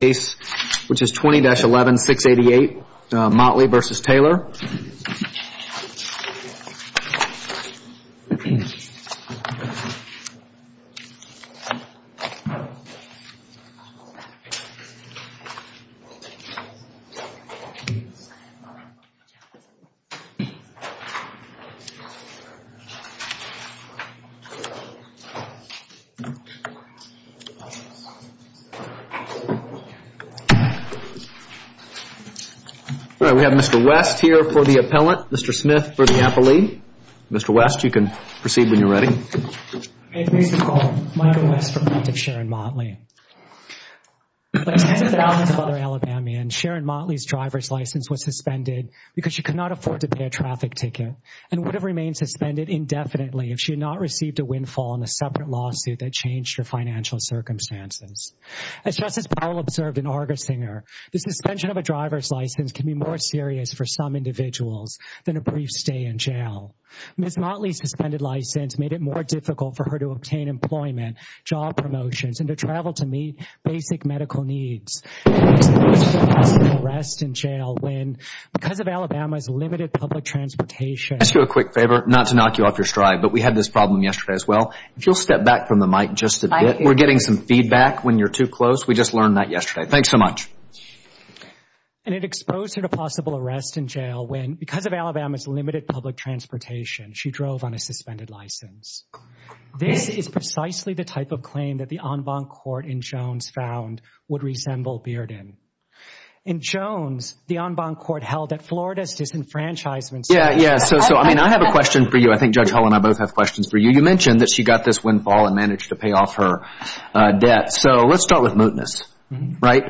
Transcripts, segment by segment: case which is 20-11-688 Motley v. Taylor. We have Mr. West here for the appellant, Mr. Smith for the appellee. Mr. West, you can proceed when you're ready. May I please recall Michael West for plaintiff Sharon Motley. Like tens of thousands of other Alabamians, Sharon Motley's driver's license was suspended because she could not afford to pay a traffic ticket and would have remained suspended indefinitely if she had not received a windfall in a separate lawsuit that changed her financial circumstances. As Justice Powell observed in Argersinger, the suspension of a driver's license can be more serious for some individuals than a brief stay in jail. Ms. Motley's suspended license made it more difficult for her to obtain employment, job promotions, and to travel to meet basic medical needs. She was arrested and jailed because of Alabama's limited public transportation. Can I ask you a quick favor, not to knock you off your stride, but we had this problem yesterday as well. If you'll step back from the mic just a bit. We're getting some feedback when you're too close. We just learned that yesterday. Thanks so much. And it exposed her to possible arrest and jail when, because of Alabama's limited public transportation, she drove on a suspended license. This is precisely the type of claim that the en banc court in Jones found would resemble Bearden. In Jones, the en banc court held that Florida's disenfranchisement system Yeah, yeah. So, I mean, I have a question for you. I think Judge Hull and I both have questions for you. You mentioned that she got this windfall and managed to pay off her debt. So let's start with mootness, right?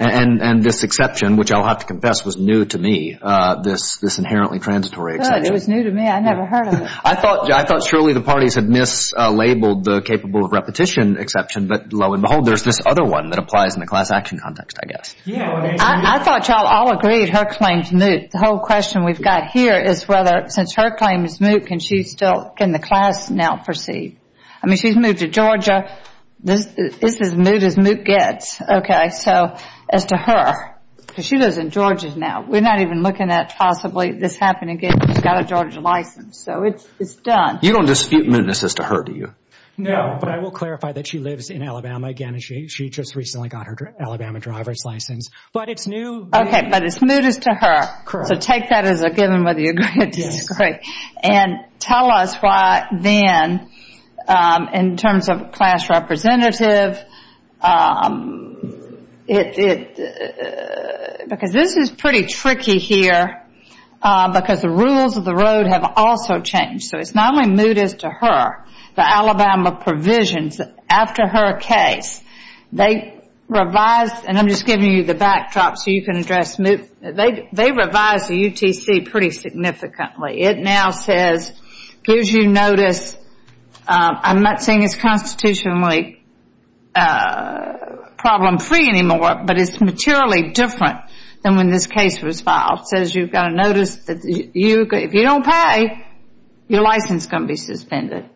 And this exception, which I'll have to confess was new to me, this inherently transitory exception. It was new to me. I never heard of it. I thought surely the parties had mislabeled the capable of repetition exception, but lo and behold, there's this other one that applies in the class action context, I guess. I thought you all agreed her claim's moot. The whole question we've got here is whether, since her claim is moot, can she still, can the class now proceed? I mean, she's moved to Georgia. This is as moot as moot gets. Okay, so as to her, because she lives in Georgia now. We're not even looking at possibly this happening again. She's got a Georgia license, so it's done. You don't dispute mootness as to her, do you? No, but I will clarify that she lives in Alabama again, and she just recently got her Alabama driver's license. But it's new to me. Okay, but it's moot as to her. Correct. So take that as a given whether you agree or disagree. Yes. And tell us why then, in terms of class representative, because this is pretty tricky here because the rules of the road have also changed. So it's not only moot as to her. The Alabama provisions after her case, they revised, and I'm just giving you the backdrop so you can address moot. They revised the UTC pretty significantly. It now says, gives you notice. I'm not saying it's constitutionally problem-free anymore, but it's materially different than when this case was filed. It says you've got a notice that if you don't pay, your license is going to be suspended.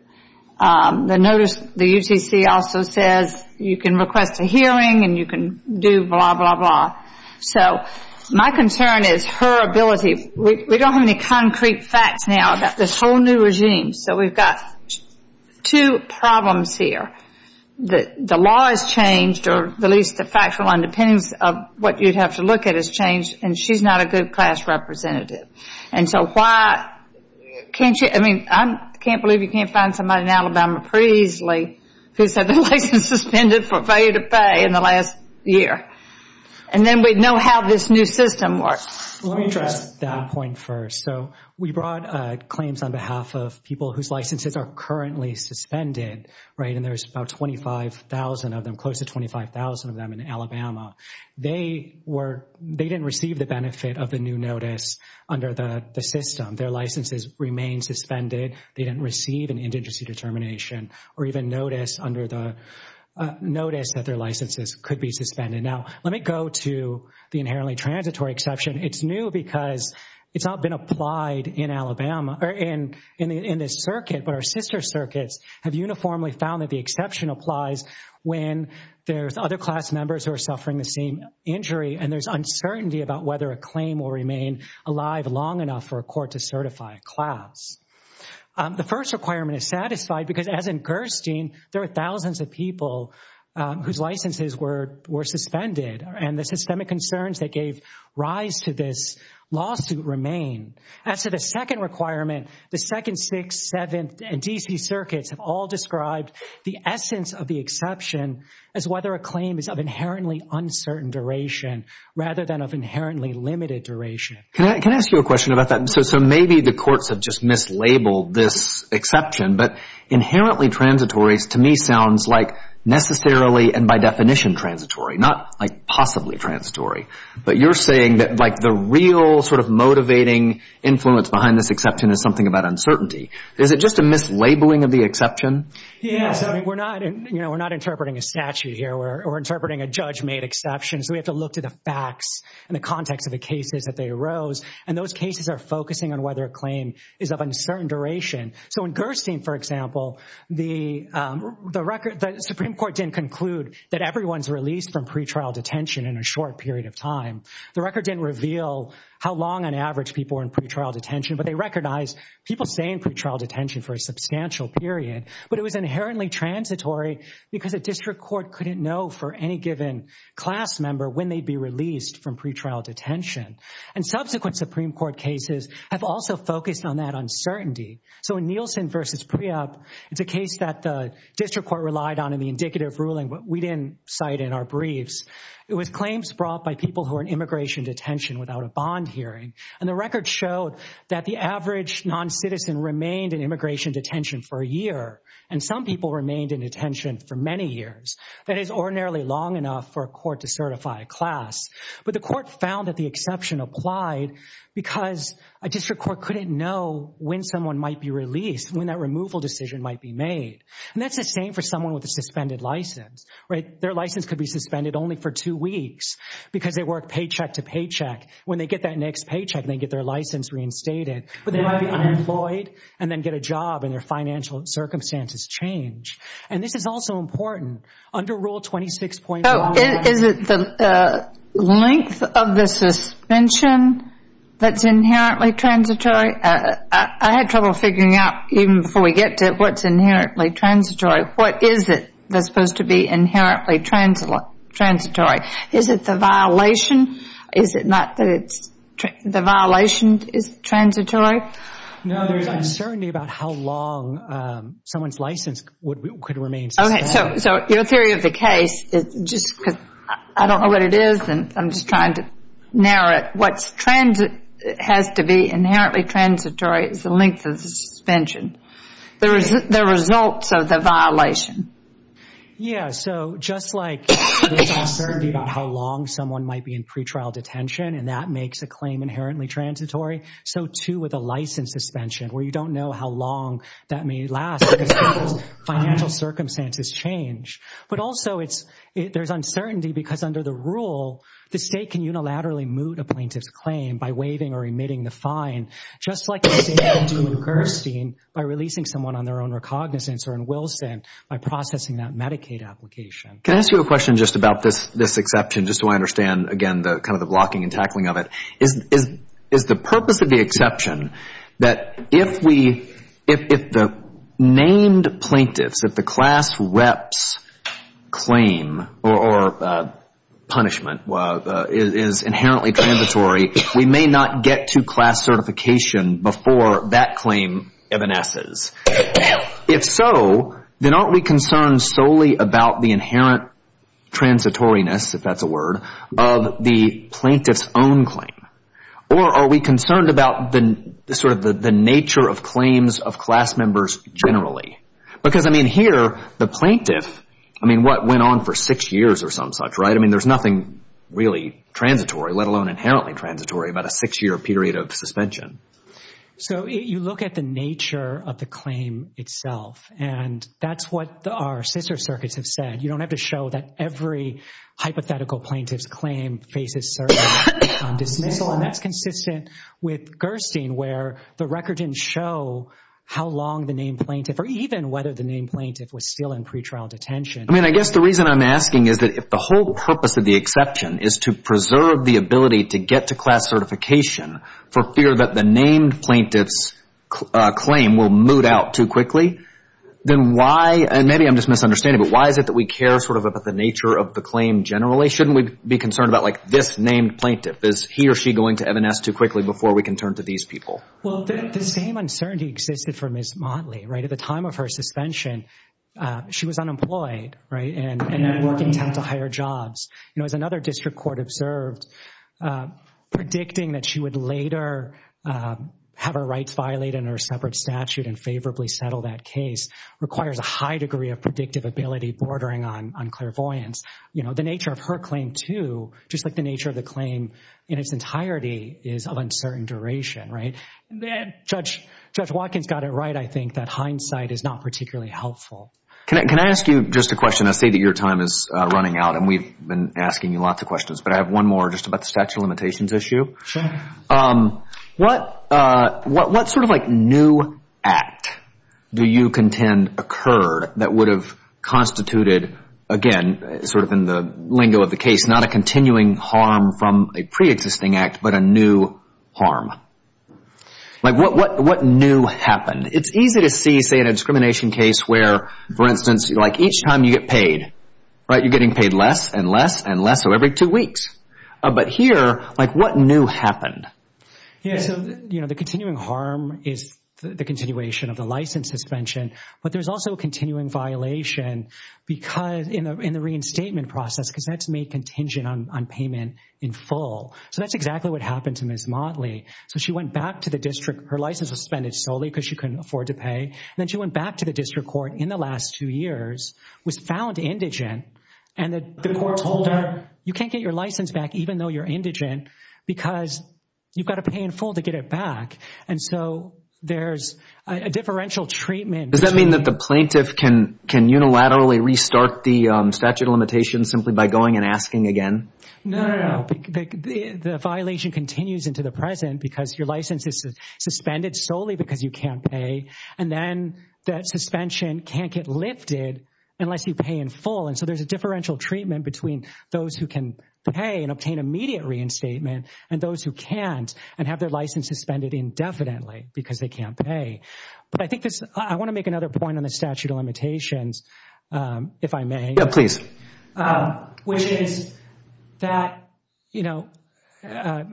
The notice, the UTC also says you can request a hearing and you can do blah, blah, blah. So my concern is her ability. We don't have any concrete facts now about this whole new regime. So we've got two problems here. The law has changed, or at least the factual underpinnings of what you'd have to look at has changed, and she's not a good class representative. And so why can't you? I mean, I can't believe you can't find somebody in Alabama pretty easily who said their license is suspended for failure to pay in the last year. And then we'd know how this new system works. Let me address that point first. So we brought claims on behalf of people whose licenses are currently suspended, right, and there's about 25,000 of them, close to 25,000 of them in Alabama. They didn't receive the benefit of the new notice under the system. Their licenses remain suspended. They didn't receive an indigency determination or even notice that their licenses could be suspended. Now, let me go to the inherently transitory exception. It's new because it's not been applied in Alabama or in this circuit, but our sister circuits have uniformly found that the exception applies when there's other class members who are suffering the same injury and there's uncertainty about whether a claim will remain alive long enough for a court to certify a class. The first requirement is satisfied because, as in Gerstein, there are thousands of people whose licenses were suspended, and the systemic concerns that gave rise to this lawsuit remain. As to the second requirement, the 2nd, 6th, 7th, and D.C. circuits have all described the essence of the exception as whether a claim is of inherently uncertain duration rather than of inherently limited duration. Can I ask you a question about that? So maybe the courts have just mislabeled this exception, but inherently transitory to me sounds like necessarily and by definition transitory, not like possibly transitory, but you're saying that like the real sort of motivating influence behind this exception is something about uncertainty. Is it just a mislabeling of the exception? Yes. We're not interpreting a statute here. We're interpreting a judge-made exception, so we have to look to the facts and the context of the cases that arose, and those cases are focusing on whether a claim is of uncertain duration. So in Gerstein, for example, the Supreme Court didn't conclude that everyone's released from pretrial detention in a short period of time. The record didn't reveal how long, on average, people were in pretrial detention, but they recognized people staying in pretrial detention for a substantial period, but it was inherently transitory because a district court couldn't know for any given class member when they'd be released from pretrial detention, and subsequent Supreme Court cases have also focused on that uncertainty. So in Nielsen v. Preop, it's a case that the district court relied on in the indicative ruling, but we didn't cite in our briefs. It was claims brought by people who were in immigration detention without a bond hearing, and the record showed that the average noncitizen remained in immigration detention for a year, and some people remained in detention for many years. That is ordinarily long enough for a court to certify a class, but the court found that the exception applied because a district court couldn't know when someone might be released, when that removal decision might be made, and that's the same for someone with a suspended license. Their license could be suspended only for two weeks because they work paycheck to paycheck. When they get that next paycheck, they get their license reinstated, but they might be unemployed and then get a job, and their financial circumstances change. And this is also important. Under Rule 26.1, Is it the length of the suspension that's inherently transitory? I had trouble figuring out, even before we get to it, what's inherently transitory. What is it that's supposed to be inherently transitory? Is it the violation? Is it not that the violation is transitory? No, there's uncertainty about how long someone's license could remain suspended. Okay, so your theory of the case is just because I don't know what it is, and I'm just trying to narrow it. What has to be inherently transitory is the length of the suspension, the results of the violation. Yeah, so just like there's uncertainty about how long someone might be in pretrial detention and that makes a claim inherently transitory, so too with a license suspension where you don't know how long that may last because financial circumstances change. But also there's uncertainty because under the rule, the state can unilaterally moot a plaintiff's claim by waiving or emitting the fine, just like the state can do in Gerstein by releasing someone on their own recognizance or in Wilson by processing that Medicaid application. Can I ask you a question just about this exception just so I understand, again, kind of the blocking and tackling of it? Is the purpose of the exception that if the named plaintiffs, if the class rep's claim or punishment is inherently transitory, we may not get to class certification before that claim evanesces? If so, then aren't we concerned solely about the inherent transitoriness, if that's a word, of the plaintiff's own claim? Or are we concerned about sort of the nature of claims of class members generally? Because, I mean, here the plaintiff, I mean, what went on for six years or some such, right? I mean, there's nothing really transitory, let alone inherently transitory, about a six-year period of suspension. So you look at the nature of the claim itself, and that's what our scissor circuits have said. You don't have to show that every hypothetical plaintiff's claim faces certain dismissal, and that's consistent with Gerstein where the record didn't show how long the named plaintiff or even whether the named plaintiff was still in pretrial detention. I mean, I guess the reason I'm asking is that if the whole purpose of the exception is to preserve the ability to get to class certification for fear that the named plaintiff's claim will moot out too quickly, then why, and maybe I'm just misunderstanding, but why is it that we care sort of about the nature of the claim generally? Shouldn't we be concerned about, like, this named plaintiff? Is he or she going to evanesce too quickly before we can turn to these people? Well, the same uncertainty existed for Ms. Motley, right? At the time of her suspension, she was unemployed, right, and at work intent to hire jobs. You know, as another district court observed, predicting that she would later have her rights violated under a separate statute and favorably settle that case requires a high degree of predictive ability bordering on clairvoyance. You know, the nature of her claim too, just like the nature of the claim in its entirety, is of uncertain duration, right? Judge Watkins got it right, I think, that hindsight is not particularly helpful. Can I ask you just a question? I see that your time is running out, and we've been asking you lots of questions, but I have one more just about the statute of limitations issue. Sure. What sort of, like, new act do you contend occurred that would have constituted, again, sort of in the lingo of the case, not a continuing harm from a preexisting act, but a new harm? Like, what new happened? It's easy to see, say, in a discrimination case where, for instance, like, each time you get paid, right, you're getting paid less and less and less, so every two weeks. But here, like, what new happened? Yeah, so, you know, the continuing harm is the continuation of the license suspension, but there's also a continuing violation in the reinstatement process because that's made contingent on payment in full. So that's exactly what happened to Ms. Motley. So she went back to the district. Her license was suspended solely because she couldn't afford to pay, and then she went back to the district court in the last two years, was found indigent, and the court told her, you can't get your license back even though you're indigent because you've got to pay in full to get it back. And so there's a differential treatment. Does that mean that the plaintiff can unilaterally restart the statute of limitations simply by going and asking again? No, no, no. The violation continues into the present because your license is suspended solely because you can't pay, and then that suspension can't get lifted unless you pay in full. And so there's a differential treatment between those who can pay and obtain immediate reinstatement and those who can't and have their license suspended indefinitely because they can't pay. But I think this – I want to make another point on the statute of limitations, if I may. Yeah, please. Which is that, you know,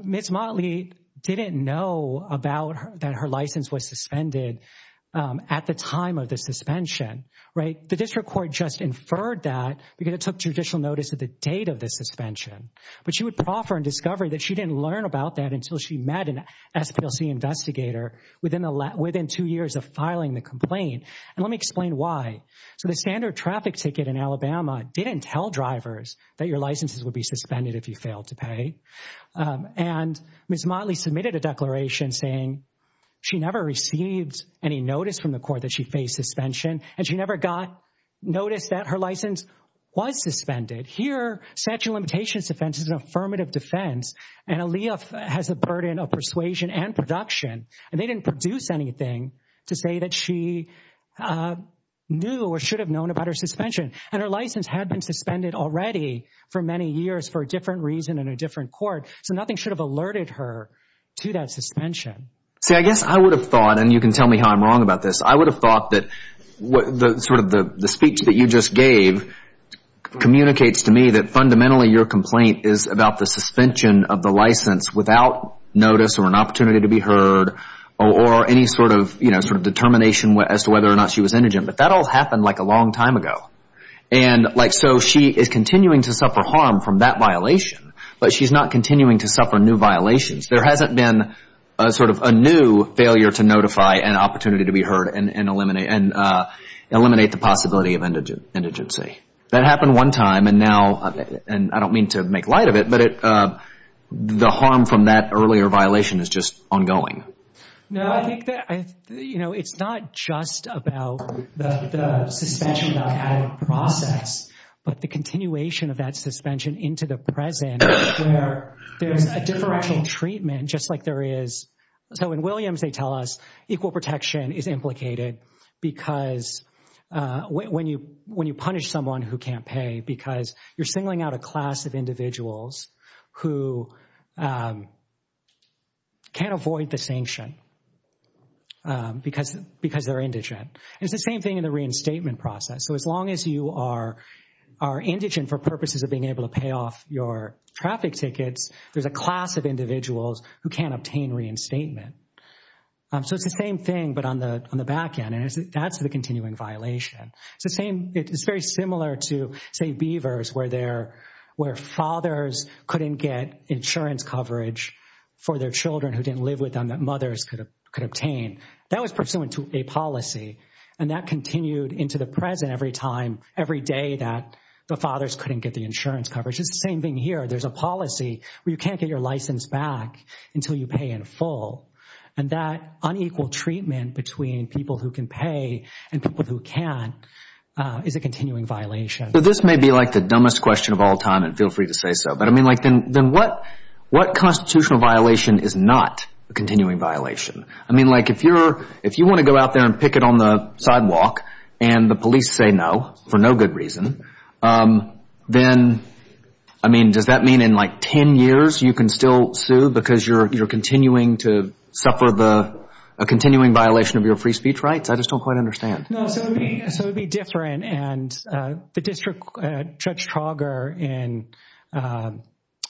Ms. Motley didn't know about that her license was suspended at the time of the suspension, right? The district court just inferred that because it took judicial notice of the date of the suspension. But she would proffer in discovery that she didn't learn about that until she met an SPLC investigator within two years of filing the complaint. And let me explain why. So the standard traffic ticket in Alabama didn't tell drivers that your licenses would be suspended if you failed to pay. And Ms. Motley submitted a declaration saying she never received any notice from the court that she faced suspension, and she never got notice that her license was suspended. Here, statute of limitations defense is an affirmative defense, and Aaliyah has a burden of persuasion and production. And they didn't produce anything to say that she knew or should have known about her suspension. And her license had been suspended already for many years for a different reason in a different court, so nothing should have alerted her to that suspension. See, I guess I would have thought, and you can tell me how I'm wrong about this, I would have thought that sort of the speech that you just gave communicates to me that fundamentally your complaint is about the suspension of the license without notice or an opportunity to be heard or any sort of determination as to whether or not she was indigent. But that all happened like a long time ago. And so she is continuing to suffer harm from that violation, but she's not continuing to suffer new violations. There hasn't been sort of a new failure to notify and opportunity to be heard and eliminate the possibility of indigency. That happened one time, and I don't mean to make light of it, but the harm from that earlier violation is just ongoing. No, I think that, you know, it's not just about the suspension without added process, but the continuation of that suspension into the present where there's a differential treatment just like there is. So in Williams they tell us equal protection is implicated because when you punish someone who can't pay because you're singling out a class of individuals who can't avoid the sanction because they're indigent. It's the same thing in the reinstatement process. So as long as you are indigent for purposes of being able to pay off your traffic tickets, there's a class of individuals who can't obtain reinstatement. So it's the same thing but on the back end, and that's the continuing violation. It's very similar to, say, Beavers where fathers couldn't get insurance coverage for their children who didn't live with them that mothers could obtain. That was pursuant to a policy, and that continued into the present every time, every day that the fathers couldn't get the insurance coverage. It's the same thing here. There's a policy where you can't get your license back until you pay in full, and that unequal treatment between people who can pay and people who can't is a continuing violation. So this may be like the dumbest question of all time, and feel free to say so, but I mean, like, then what constitutional violation is not a continuing violation? I mean, like, if you want to go out there and picket on the sidewalk and the police say no for no good reason, then, I mean, does that mean in like 10 years you can still sue because you're continuing to suffer a continuing violation of your free speech rights? I just don't quite understand. No, so it would be different, and the District Judge Trauger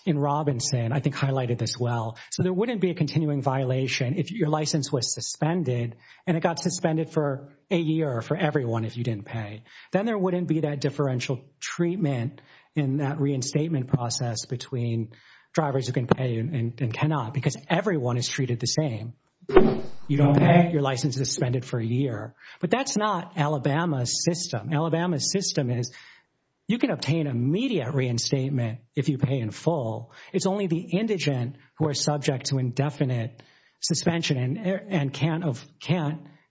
in Robinson I think highlighted this well. So there wouldn't be a continuing violation if your license was suspended and it got suspended for a year for everyone if you didn't pay. Then there wouldn't be that differential treatment in that reinstatement process between drivers who can pay and cannot because everyone is treated the same. You don't pay, your license is suspended for a year. But that's not Alabama's system. Alabama's system is you can obtain immediate reinstatement if you pay in full. It's only the indigent who are subject to indefinite suspension and can't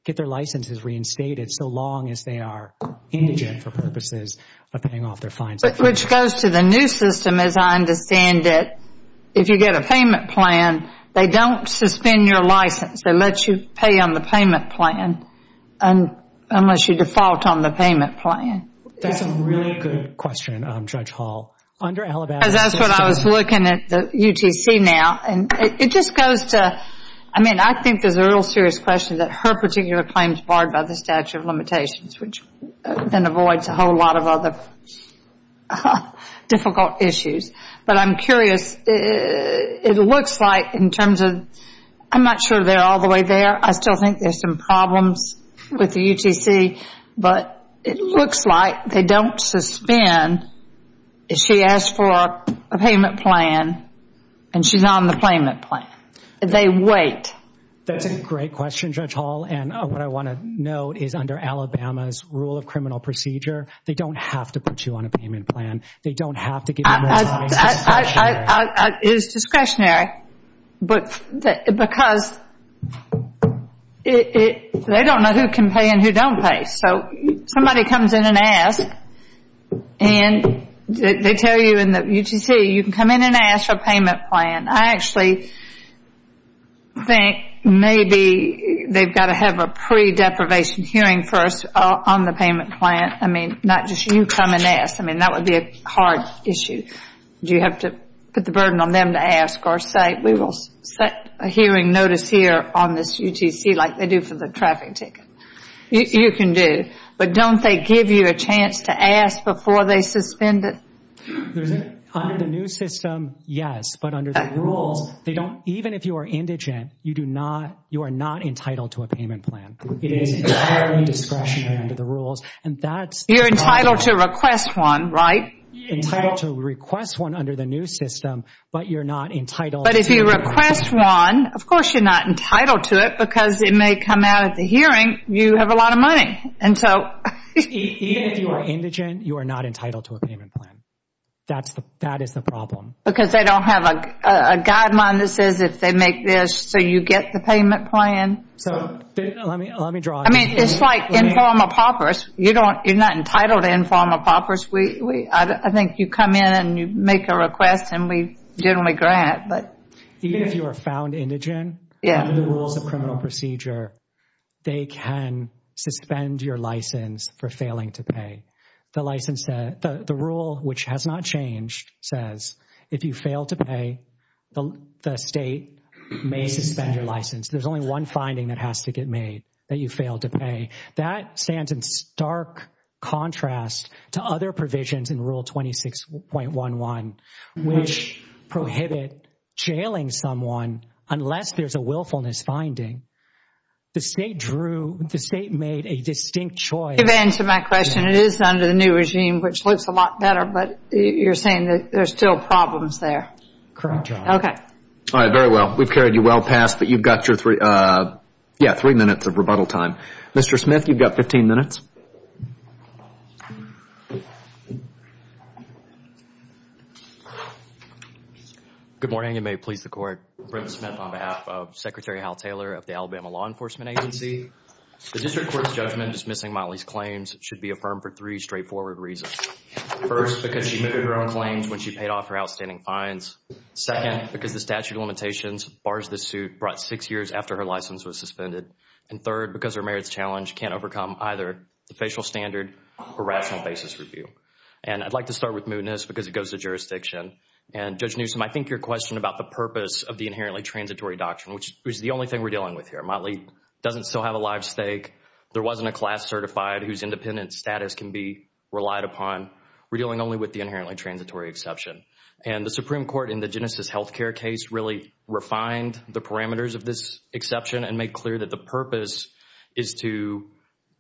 get their licenses reinstated so long as they are indigent for purposes of paying off their fines. Which goes to the new system as I understand it. If you get a payment plan, they don't suspend your license. They let you pay on the payment plan unless you default on the payment plan. That's a really good question, Judge Hall. Because that's what I was looking at the UTC now, and it just goes to, I mean, I think there's a real serious question that her particular claim is barred by the statute of limitations which then avoids a whole lot of other difficult issues. But I'm curious, it looks like in terms of, I'm not sure they're all the way there. I still think there's some problems with the UTC, but it looks like they don't suspend. She asked for a payment plan and she's on the payment plan. They wait. That's a great question, Judge Hall. And what I want to note is under Alabama's rule of criminal procedure, they don't have to put you on a payment plan. They don't have to give you more time. It is discretionary because they don't know who can pay and who don't pay. So somebody comes in and asks, and they tell you in the UTC, you can come in and ask for a payment plan. I actually think maybe they've got to have a pre-deprivation hearing first on the payment plan. I mean, not just you come and ask. I mean, that would be a hard issue. Do you have to put the burden on them to ask or say, we will set a hearing notice here on this UTC like they do for the traffic ticket? You can do, but don't they give you a chance to ask before they suspend it? Under the new system, yes. But under the rules, even if you are indigent, you are not entitled to a payment plan. It is entirely discretionary under the rules. You're entitled to request one, right? Entitled to request one under the new system, but you're not entitled to a payment plan. But if you request one, of course you're not entitled to it because it may come out at the hearing you have a lot of money. Even if you are indigent, you are not entitled to a payment plan. That is the problem. Because they don't have a guideline that says if they make this, so you get the payment plan. Let me draw on that. I mean, it's like informal paupers. You're not entitled to informal paupers. I think you come in and you make a request and we generally grant. Even if you are found indigent, under the rules of criminal procedure, they can suspend your license for failing to pay. The rule, which has not changed, says if you fail to pay, the state may suspend your license. There's only one finding that has to get made, that you failed to pay. That stands in stark contrast to other provisions in Rule 26.11, which prohibit jailing someone unless there's a willfulness finding. The state drew, the state made a distinct choice. You've answered my question. It is under the new regime, which looks a lot better, but you're saying that there's still problems there. Correct. Okay. All right, very well. We've carried you well past, but you've got your three minutes of rebuttal time. Mr. Smith, you've got 15 minutes. Good morning, and may it please the Court. Brent Smith on behalf of Secretary Hal Taylor of the Alabama Law Enforcement Agency. The district court's judgment dismissing Motley's claims should be affirmed for three straightforward reasons. First, because she admitted her own claims when she paid off her outstanding fines. Second, because the statute of limitations bars this suit brought six years after her license was suspended. And third, because her merits challenge can't overcome either the facial standard or rational basis review. And I'd like to start with mootness because it goes to jurisdiction. And Judge Newsom, I think your question about the purpose of the inherently transitory doctrine, which is the only thing we're dealing with here. Motley doesn't still have a live stake. There wasn't a class certified whose independent status can be relied upon. We're dealing only with the inherently transitory exception. And the Supreme Court in the Genesis Healthcare case really refined the parameters of this exception and made clear that the purpose is to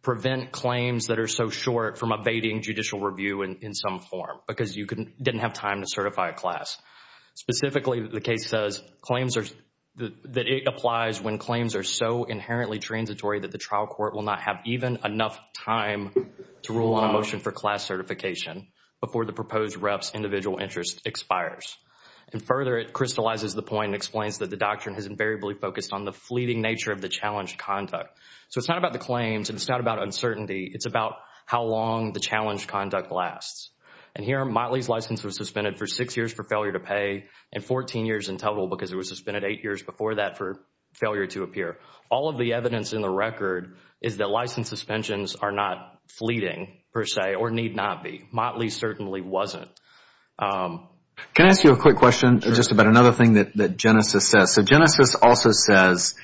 prevent claims that are so short from evading judicial review in some form because you didn't have time to certify a class. Specifically, the case says that it applies when claims are so inherently transitory that the trial court will not have even enough time to rule on a motion for class certification before the proposed rep's individual interest expires. And further, it crystallizes the point and explains that the doctrine has invariably focused on the fleeting nature of the challenge conduct. So it's not about the claims and it's not about uncertainty. It's about how long the challenge conduct lasts. And here, Motley's license was suspended for six years for failure to pay and 14 years in total because it was suspended eight years before that for failure to appear. All of the evidence in the record is that license suspensions are not fleeting, per se, or need not be. Motley's certainly wasn't. Can I ask you a quick question just about another thing that Genesis says? So Genesis also says,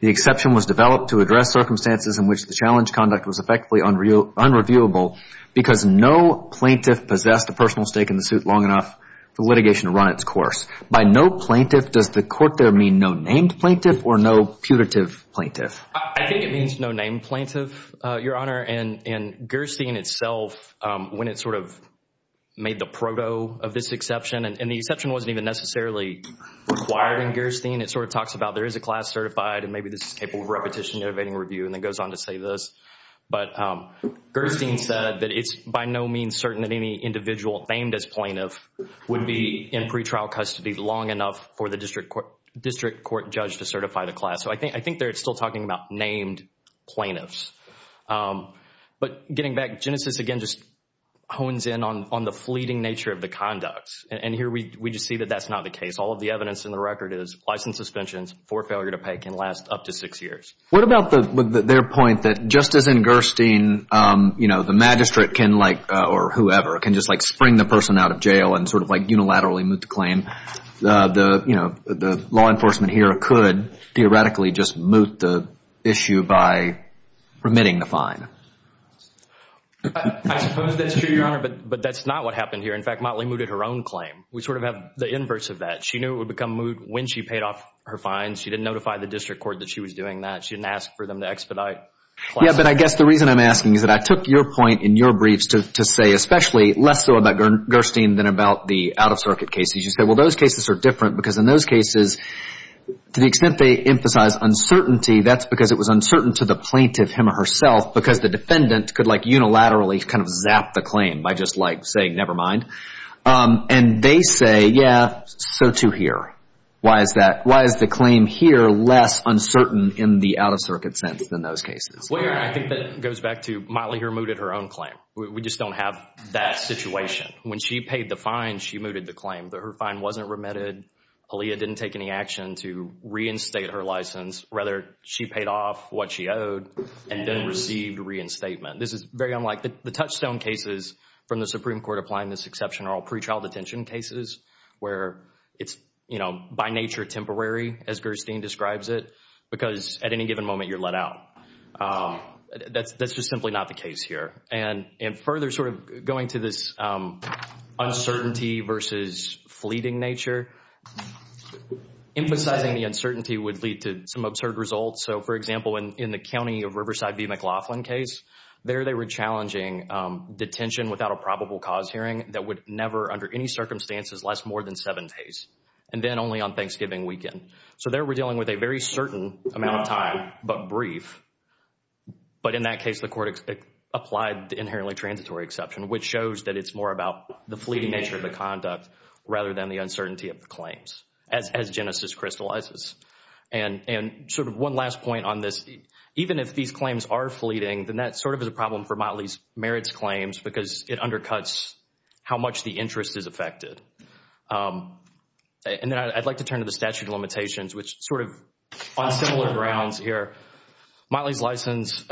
the exception was developed to address circumstances in which the challenge conduct was effectively unreviewable because no plaintiff possessed a personal stake in the suit long enough for litigation to run its course. By no plaintiff, does the court there mean no named plaintiff or no putative plaintiff? I think it means no named plaintiff, Your Honor. And Gerstein itself, when it sort of made the proto of this exception, and the exception wasn't even necessarily required in Gerstein, it sort of talks about there is a class certified and maybe this is capable of repetition, innovating review, and then goes on to say this. But Gerstein said that it's by no means certain that any individual named as plaintiff would be in pretrial custody long enough for the district court judge to certify the class. So I think they're still talking about named plaintiffs. But getting back, Genesis again just hones in on the fleeting nature of the conducts. And here we just see that that's not the case. All of the evidence in the record is license suspensions for failure to pay can last up to six years. What about their point that just as in Gerstein the magistrate can like, or whoever, can just like spring the person out of jail and sort of like unilaterally moot the claim, the law enforcement here could theoretically just moot the issue by remitting the fine. I suppose that's true, Your Honor, but that's not what happened here. In fact, Motley mooted her own claim. We sort of have the inverse of that. She knew it would become moot when she paid off her fines. She didn't notify the district court that she was doing that. She didn't ask for them to expedite. Yeah, but I guess the reason I'm asking is that I took your point in your briefs to say, especially less so about Gerstein than about the out-of-circuit cases. You said, well, those cases are different because in those cases to the extent they emphasize uncertainty, that's because it was uncertain to the plaintiff, him or herself, because the defendant could like unilaterally kind of zap the claim by just like saying never mind. And they say, yeah, so too here. Why is that? Why is the claim here less uncertain in the out-of-circuit sense than those cases? Well, Your Honor, I think that goes back to Motley who mooted her own claim. We just don't have that situation. When she paid the fine, she mooted the claim. Her fine wasn't remitted. Aaliyah didn't take any action to reinstate her license. Rather, she paid off what she owed and then received reinstatement. This is very unlike the touchstone cases from the Supreme Court applying this exception in general pretrial detention cases where it's, you know, by nature temporary as Gerstein describes it because at any given moment you're let out. That's just simply not the case here. And further sort of going to this uncertainty versus fleeting nature, emphasizing the uncertainty would lead to some absurd results. So, for example, in the county of Riverside v. McLaughlin case, there they were challenging detention without a probable cause hearing that would never under any circumstances last more than seven days and then only on Thanksgiving weekend. So there we're dealing with a very certain amount of time but brief. But in that case, the court applied the inherently transitory exception, which shows that it's more about the fleeting nature of the conduct rather than the uncertainty of the claims as Genesis crystallizes. And sort of one last point on this, even if these claims are fleeting, then that sort of is a problem for Motley's merits claims because it undercuts how much the interest is affected. And then I'd like to turn to the statute of limitations, which sort of on similar grounds here, Motley's license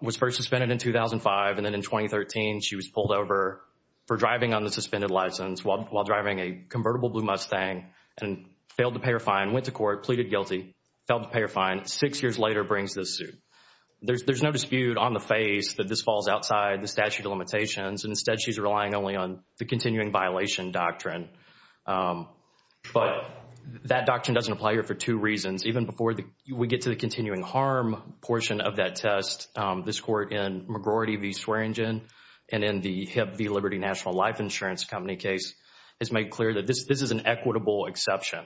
was first suspended in 2005 and then in 2013, she was pulled over for driving on the suspended license while driving a convertible blue Mustang and failed to pay her fine, went to court, pleaded guilty, failed to pay her fine. Six years later, brings this suit. There's no dispute on the face that this falls outside the statute of limitations. Instead, she's relying only on the continuing violation doctrine. But that doctrine doesn't apply here for two reasons. Even before we get to the continuing harm portion of that test, this court in McGroarty v. Swearingen and in the HIPP v. Liberty National Life Insurance Company case has made clear that this is an equitable exception.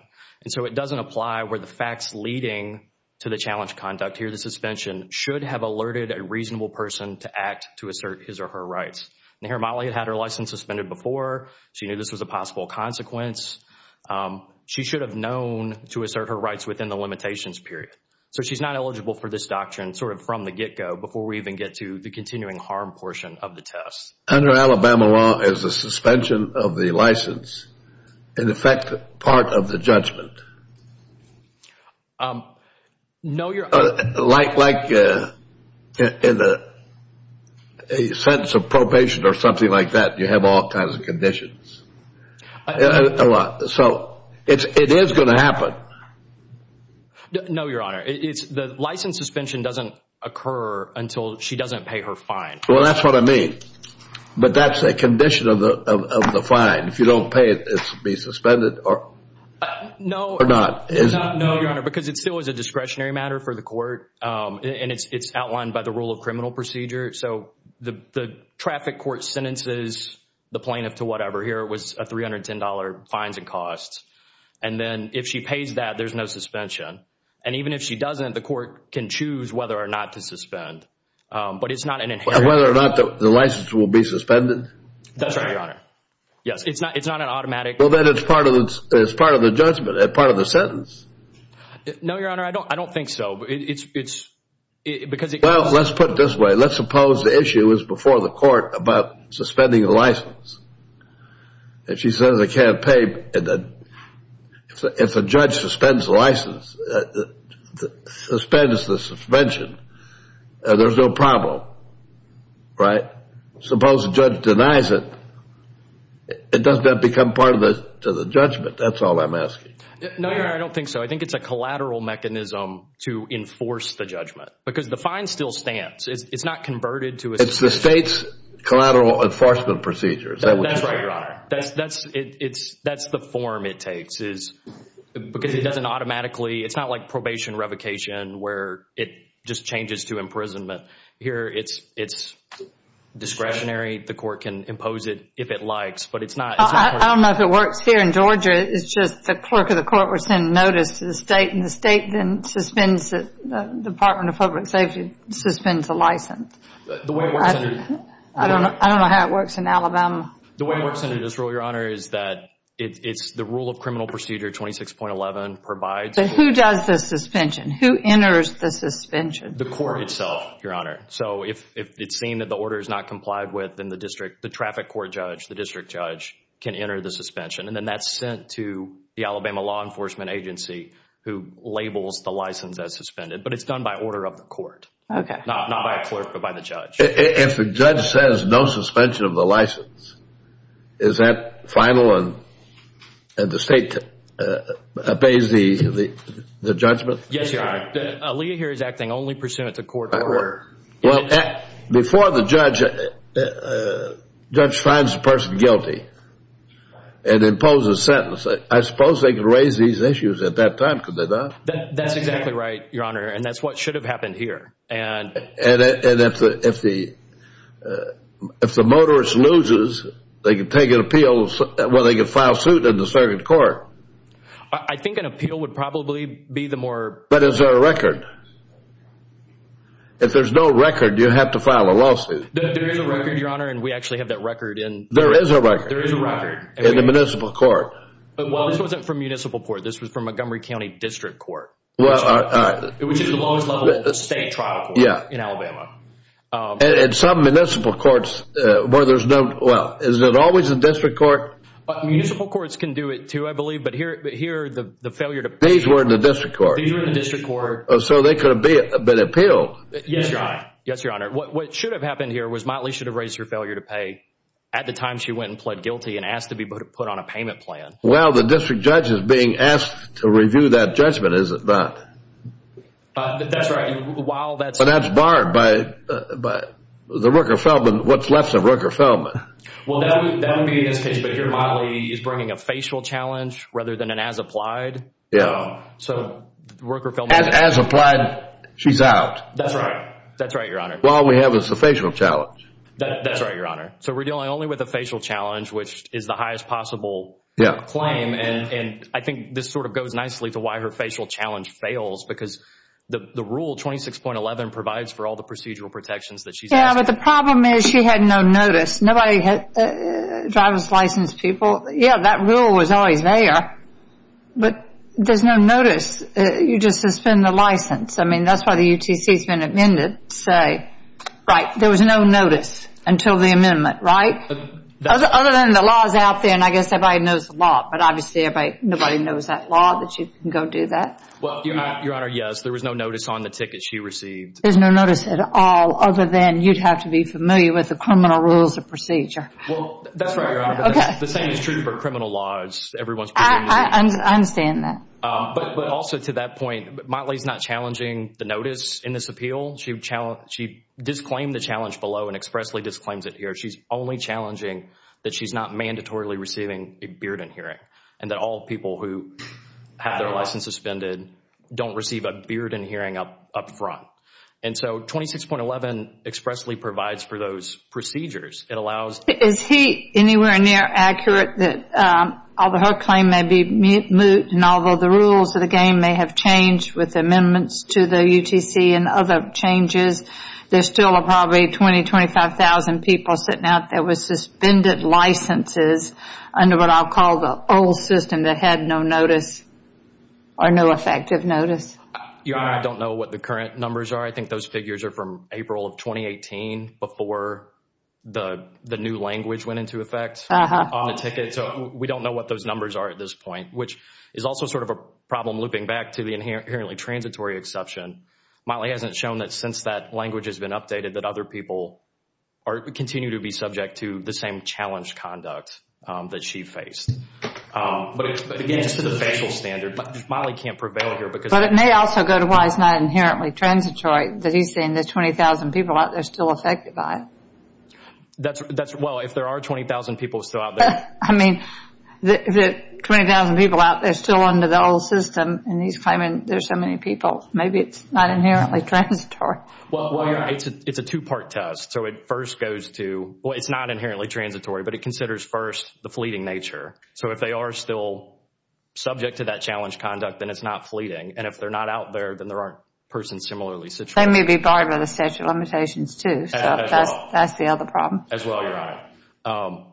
And so it doesn't apply where the facts leading to the challenge conduct here, the suspension should have alerted a reasonable person to act to assert his or her rights. And here Motley had her license suspended before. She knew this was a possible consequence. She should have known to assert her rights within the limitations period. So she's not eligible for this doctrine sort of from the get-go before we even get to the continuing harm portion of the test. Under Alabama law, is the suspension of the license, in effect, part of the judgment? No, Your Honor. Like in a sentence of probation or something like that, you have all kinds of conditions. So it is going to happen. No, Your Honor. The license suspension doesn't occur until she doesn't pay her fine. Well, that's what I mean. But that's a condition of the fine. If you don't pay it, it's to be suspended or not, is it? No, Your Honor, because it still is a discretionary matter for the court, and it's outlined by the rule of criminal procedure. So the traffic court sentences the plaintiff to whatever. Here it was $310 fines and costs. And then if she pays that, there's no suspension. And even if she doesn't, the court can choose whether or not to suspend. But it's not an inherent. Whether or not the license will be suspended? That's right, Your Honor. Yes, it's not an automatic. Well, then it's part of the judgment, part of the sentence. No, Your Honor, I don't think so. Well, let's put it this way. Let's suppose the issue is before the court about suspending the license. If she says I can't pay, if the judge suspends the license, suspends the suspension, there's no problem, right? Suppose the judge denies it. It doesn't have to become part of the judgment. That's all I'm asking. No, Your Honor, I don't think so. I think it's a collateral mechanism to enforce the judgment because the fine still stands. It's not converted to a suspension. It's the state's collateral enforcement procedure. That's right, Your Honor. That's the form it takes because it doesn't automatically. It's not like probation revocation where it just changes to imprisonment. Here it's discretionary. The court can impose it if it likes, but it's not. I don't know if it works here in Georgia. It's just the clerk of the court will send notice to the state, and the state then suspends it. The Department of Public Safety suspends the license. I don't know how it works in Alabama. The way it works under this rule, Your Honor, is that it's the rule of criminal procedure 26.11 provides. But who does the suspension? Who enters the suspension? The court itself, Your Honor. So if it's seen that the order is not complied with, then the traffic court judge, the district judge can enter the suspension, and then that's sent to the Alabama Law Enforcement Agency who labels the license as suspended. But it's done by order of the court. Okay. Not by a clerk, but by the judge. If the judge says no suspension of the license, is that final and the state obeys the judgment? Yes, Your Honor. Leah here is acting only pursuant to court order. Well, before the judge finds the person guilty and imposes a sentence, I suppose they could raise these issues at that time, could they not? That's exactly right, Your Honor, and that's what should have happened here. And if the motorist loses, they could take an appeal, well, they could file suit in the circuit court. I think an appeal would probably be the more – But is there a record? If there's no record, do you have to file a lawsuit? There is a record, Your Honor, and we actually have that record in – There is a record. There is a record. In the municipal court. Well, this wasn't from municipal court. This was from Montgomery County District Court, which is the lowest level state trial court in Alabama. And some municipal courts where there's no – well, is it always the district court? Municipal courts can do it too, I believe, but here the failure to pay – These were in the district court. These were in the district court. So they could have been appealed. Yes, Your Honor. Yes, Your Honor. What should have happened here was Motley should have raised her failure to pay at the time she went and pled guilty and asked to be put on a payment plan. Well, the district judge is being asked to review that judgment, is it not? That's right. While that's – But that's barred by the Rooker-Feldman. What's left is the Rooker-Feldman. Well, that would be in this case. But here Motley is bringing a facial challenge rather than an as-applied. Yes. So the Rooker-Feldman – As-applied, she's out. That's right. That's right, Your Honor. All we have is the facial challenge. That's right, Your Honor. So we're dealing only with the facial challenge, which is the highest possible claim, and I think this sort of goes nicely to why her facial challenge fails because the rule, 26.11, provides for all the procedural protections that she's asked for. Yes, but the problem is she had no notice. Nobody had driver's license people. Yes, that rule was always there, but there's no notice. You just suspend the license. I mean, that's why the UTC has been amended. Right, there was no notice until the amendment, right? Other than the laws out there, and I guess everybody knows the law, but obviously nobody knows that law that you can go do that. Well, Your Honor, yes, there was no notice on the ticket she received. There's no notice at all other than you'd have to be familiar with the criminal rules of procedure. Well, that's right, Your Honor. Okay. The same is true for criminal laws. I understand that. But also to that point, Motley's not challenging the notice in this appeal. She disclaimed the challenge below and expressly disclaims it here. She's only challenging that she's not mandatorily receiving a Bearden hearing and that all people who have their license suspended don't receive a Bearden hearing up front. And so 26.11 expressly provides for those procedures. It allows— Is he anywhere near accurate that although her claim may be moot and although the rules of the game may have changed with amendments to the UTC and other changes, there's still probably 20,000, 25,000 people sitting out there with suspended licenses under what I'll call the old system that had no notice or no effective notice? Your Honor, I don't know what the current numbers are. I think those figures are from April of 2018 before the new language went into effect on the ticket. So we don't know what those numbers are at this point, which is also sort of a problem looping back to the inherently transitory exception. Mollie hasn't shown that since that language has been updated that other people continue to be subject to the same challenge conduct that she faced. But again, just to the facial standard, Mollie can't prevail here because— But it may also go to why it's not inherently transitory that he's saying there's 20,000 people out there still affected by it. Well, if there are 20,000 people still out there— I mean, if there are 20,000 people out there still under the old system and he's claiming there's so many people, maybe it's not inherently transitory. Well, Your Honor, it's a two-part test. So it first goes to—well, it's not inherently transitory, but it considers first the fleeting nature. So if they are still subject to that challenge conduct, then it's not fleeting. And if they're not out there, then there aren't persons similarly situated. They may be barred by the statute of limitations too. So that's the other problem. As well, Your Honor.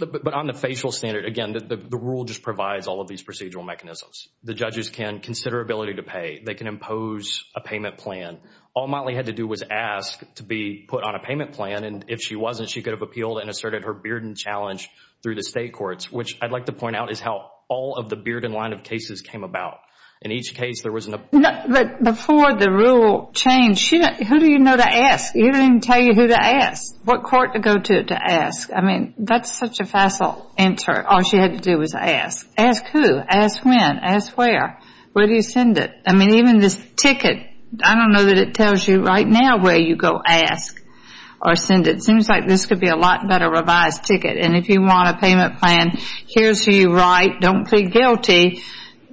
But on the facial standard, again, the rule just provides all of these procedural mechanisms. The judges can consider ability to pay. They can impose a payment plan. All Motley had to do was ask to be put on a payment plan. And if she wasn't, she could have appealed and asserted her beard and challenge through the state courts, which I'd like to point out is how all of the beard and line of cases came about. In each case, there was an— But before the rule changed, who do you know to ask? You didn't even tell you who to ask. What court to go to to ask? I mean, that's such a facile answer. All she had to do was ask. Ask who? Ask when? Ask where? Where do you send it? I mean, even this ticket, I don't know that it tells you right now where you go ask or send it. It seems like this could be a lot better revised ticket. And if you want a payment plan, here's who you write. Don't plead guilty.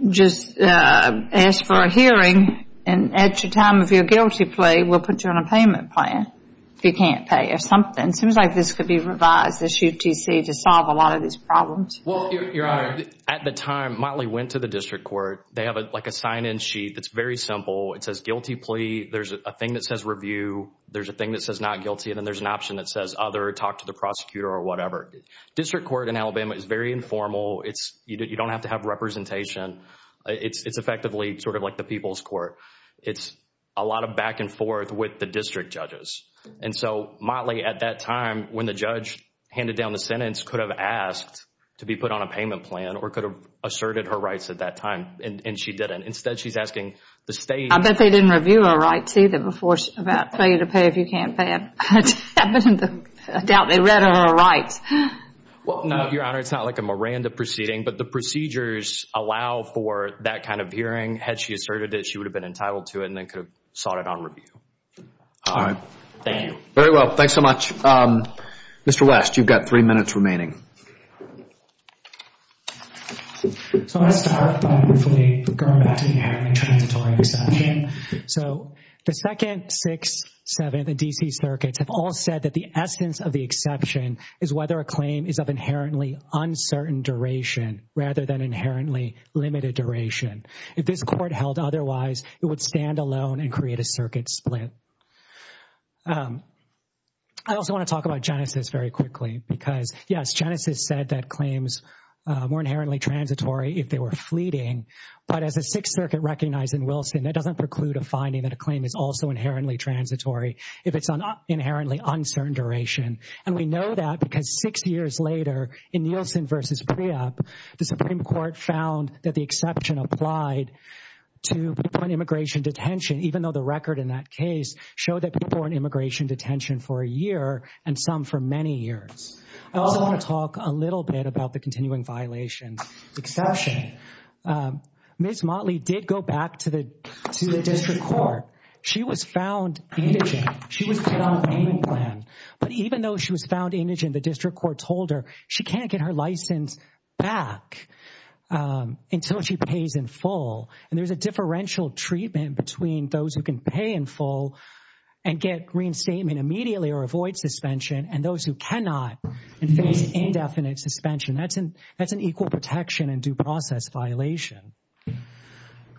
Just ask for a hearing. And at the time of your guilty plea, we'll put you on a payment plan if you can't pay or something. It seems like this could be revised, this UTC, to solve a lot of these problems. Well, Your Honor, at the time Motley went to the district court, they have like a sign-in sheet that's very simple. It says guilty plea. There's a thing that says review. There's a thing that says not guilty. And then there's an option that says other, talk to the prosecutor or whatever. District court in Alabama is very informal. You don't have to have representation. It's effectively sort of like the people's court. It's a lot of back and forth with the district judges. And so Motley, at that time, when the judge handed down the sentence, could have asked to be put on a payment plan or could have asserted her rights at that time. And she didn't. Instead, she's asking the state. I bet they didn't review her rights either before about pay you to pay if you can't pay. I doubt they read her rights. Well, no, Your Honor, it's not like a Miranda proceeding. But the procedures allow for that kind of hearing. Had she asserted it, she would have been entitled to it and then could have sought it on review. All right. Thank you. Very well. Thanks so much. Mr. West, you've got three minutes remaining. So I'll start by briefly going back to the inherently transitory exception. So the second, six, seven, the D.C. circuits have all said that the essence of the exception is whether a claim is of inherently uncertain duration rather than inherently limited duration. If this court held otherwise, it would stand alone and create a circuit split. I also want to talk about Genesis very quickly because, yes, Genesis said that claims were inherently transitory if they were fleeting. But as the Sixth Circuit recognized in Wilson, that doesn't preclude a finding that a claim is also inherently transitory if it's on inherently uncertain duration. And we know that because six years later in Nielsen v. Preop, the Supreme Court found that the exception applied to people in immigration detention, even though the record in that case showed that people were in immigration detention for a year and some for many years. I also want to talk a little bit about the continuing violations exception. Ms. Motley did go back to the district court. She was found indigent. She was put on a payment plan. But even though she was found indigent, the district court told her she can't get her until she pays in full. And there's a differential treatment between those who can pay in full and get reinstatement immediately or avoid suspension and those who cannot and face indefinite suspension. That's an equal protection and due process violation.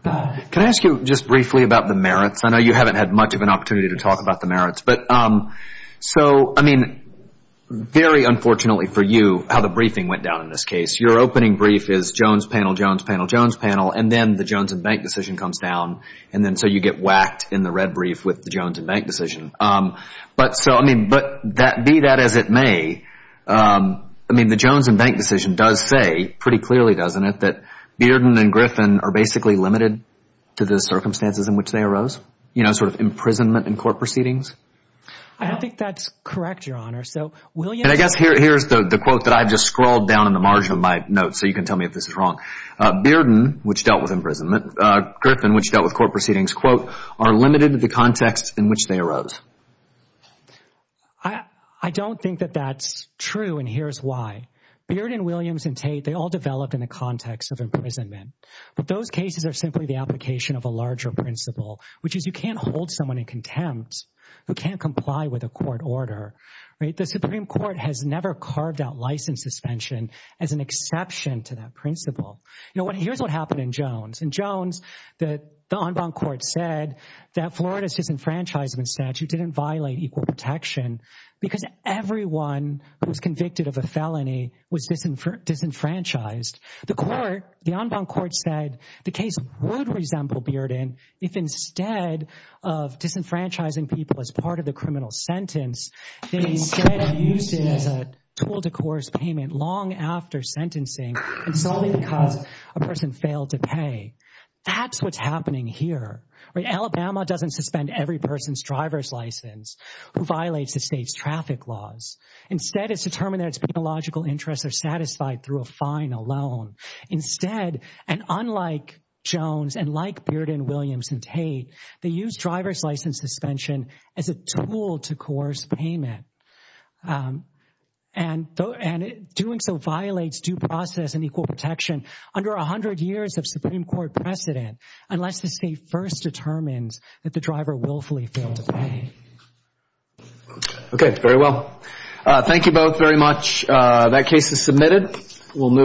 Can I ask you just briefly about the merits? I know you haven't had much of an opportunity to talk about the merits. But so, I mean, very unfortunately for you how the briefing went down in this case. Your opening brief is Jones panel, Jones panel, Jones panel. And then the Jones and Bank decision comes down. And then so you get whacked in the red brief with the Jones and Bank decision. But so, I mean, be that as it may, I mean, the Jones and Bank decision does say pretty clearly, doesn't it, that Bearden and Griffin are basically limited to the circumstances in which they arose, you know, sort of imprisonment and court proceedings. I don't think that's correct, Your Honor. And I guess here's the quote that I've just scrolled down in the margin of my notes so you can tell me if this is wrong. Bearden, which dealt with imprisonment, Griffin, which dealt with court proceedings, are limited to the context in which they arose. I don't think that that's true and here's why. Bearden, Williams, and Tate, they all developed in the context of imprisonment. But those cases are simply the application of a larger principle, which is you can't hold someone in contempt who can't comply with a court order. The Supreme Court has never carved out license suspension as an exception to that principle. You know, here's what happened in Jones. In Jones, the en banc court said that Florida's disenfranchisement statute didn't violate equal protection because everyone who was convicted of a felony was disenfranchised. The court, the en banc court said the case would resemble Bearden if instead of disenfranchising people as part of the criminal sentence, they instead used it as a tool to coerce payment long after sentencing and solely because a person failed to pay. That's what's happening here. Alabama doesn't suspend every person's driver's license who violates the state's traffic laws. Instead, it's determined that its penological interests are satisfied through a final loan. Instead, and unlike Jones and like Bearden, Williams, and Tate, they use driver's license suspension as a tool to coerce payment and doing so violates due process and equal protection under 100 years of Supreme Court precedent unless the state first determines that the driver willfully failed to pay. Okay, very well. Thank you both very much. That case is submitted.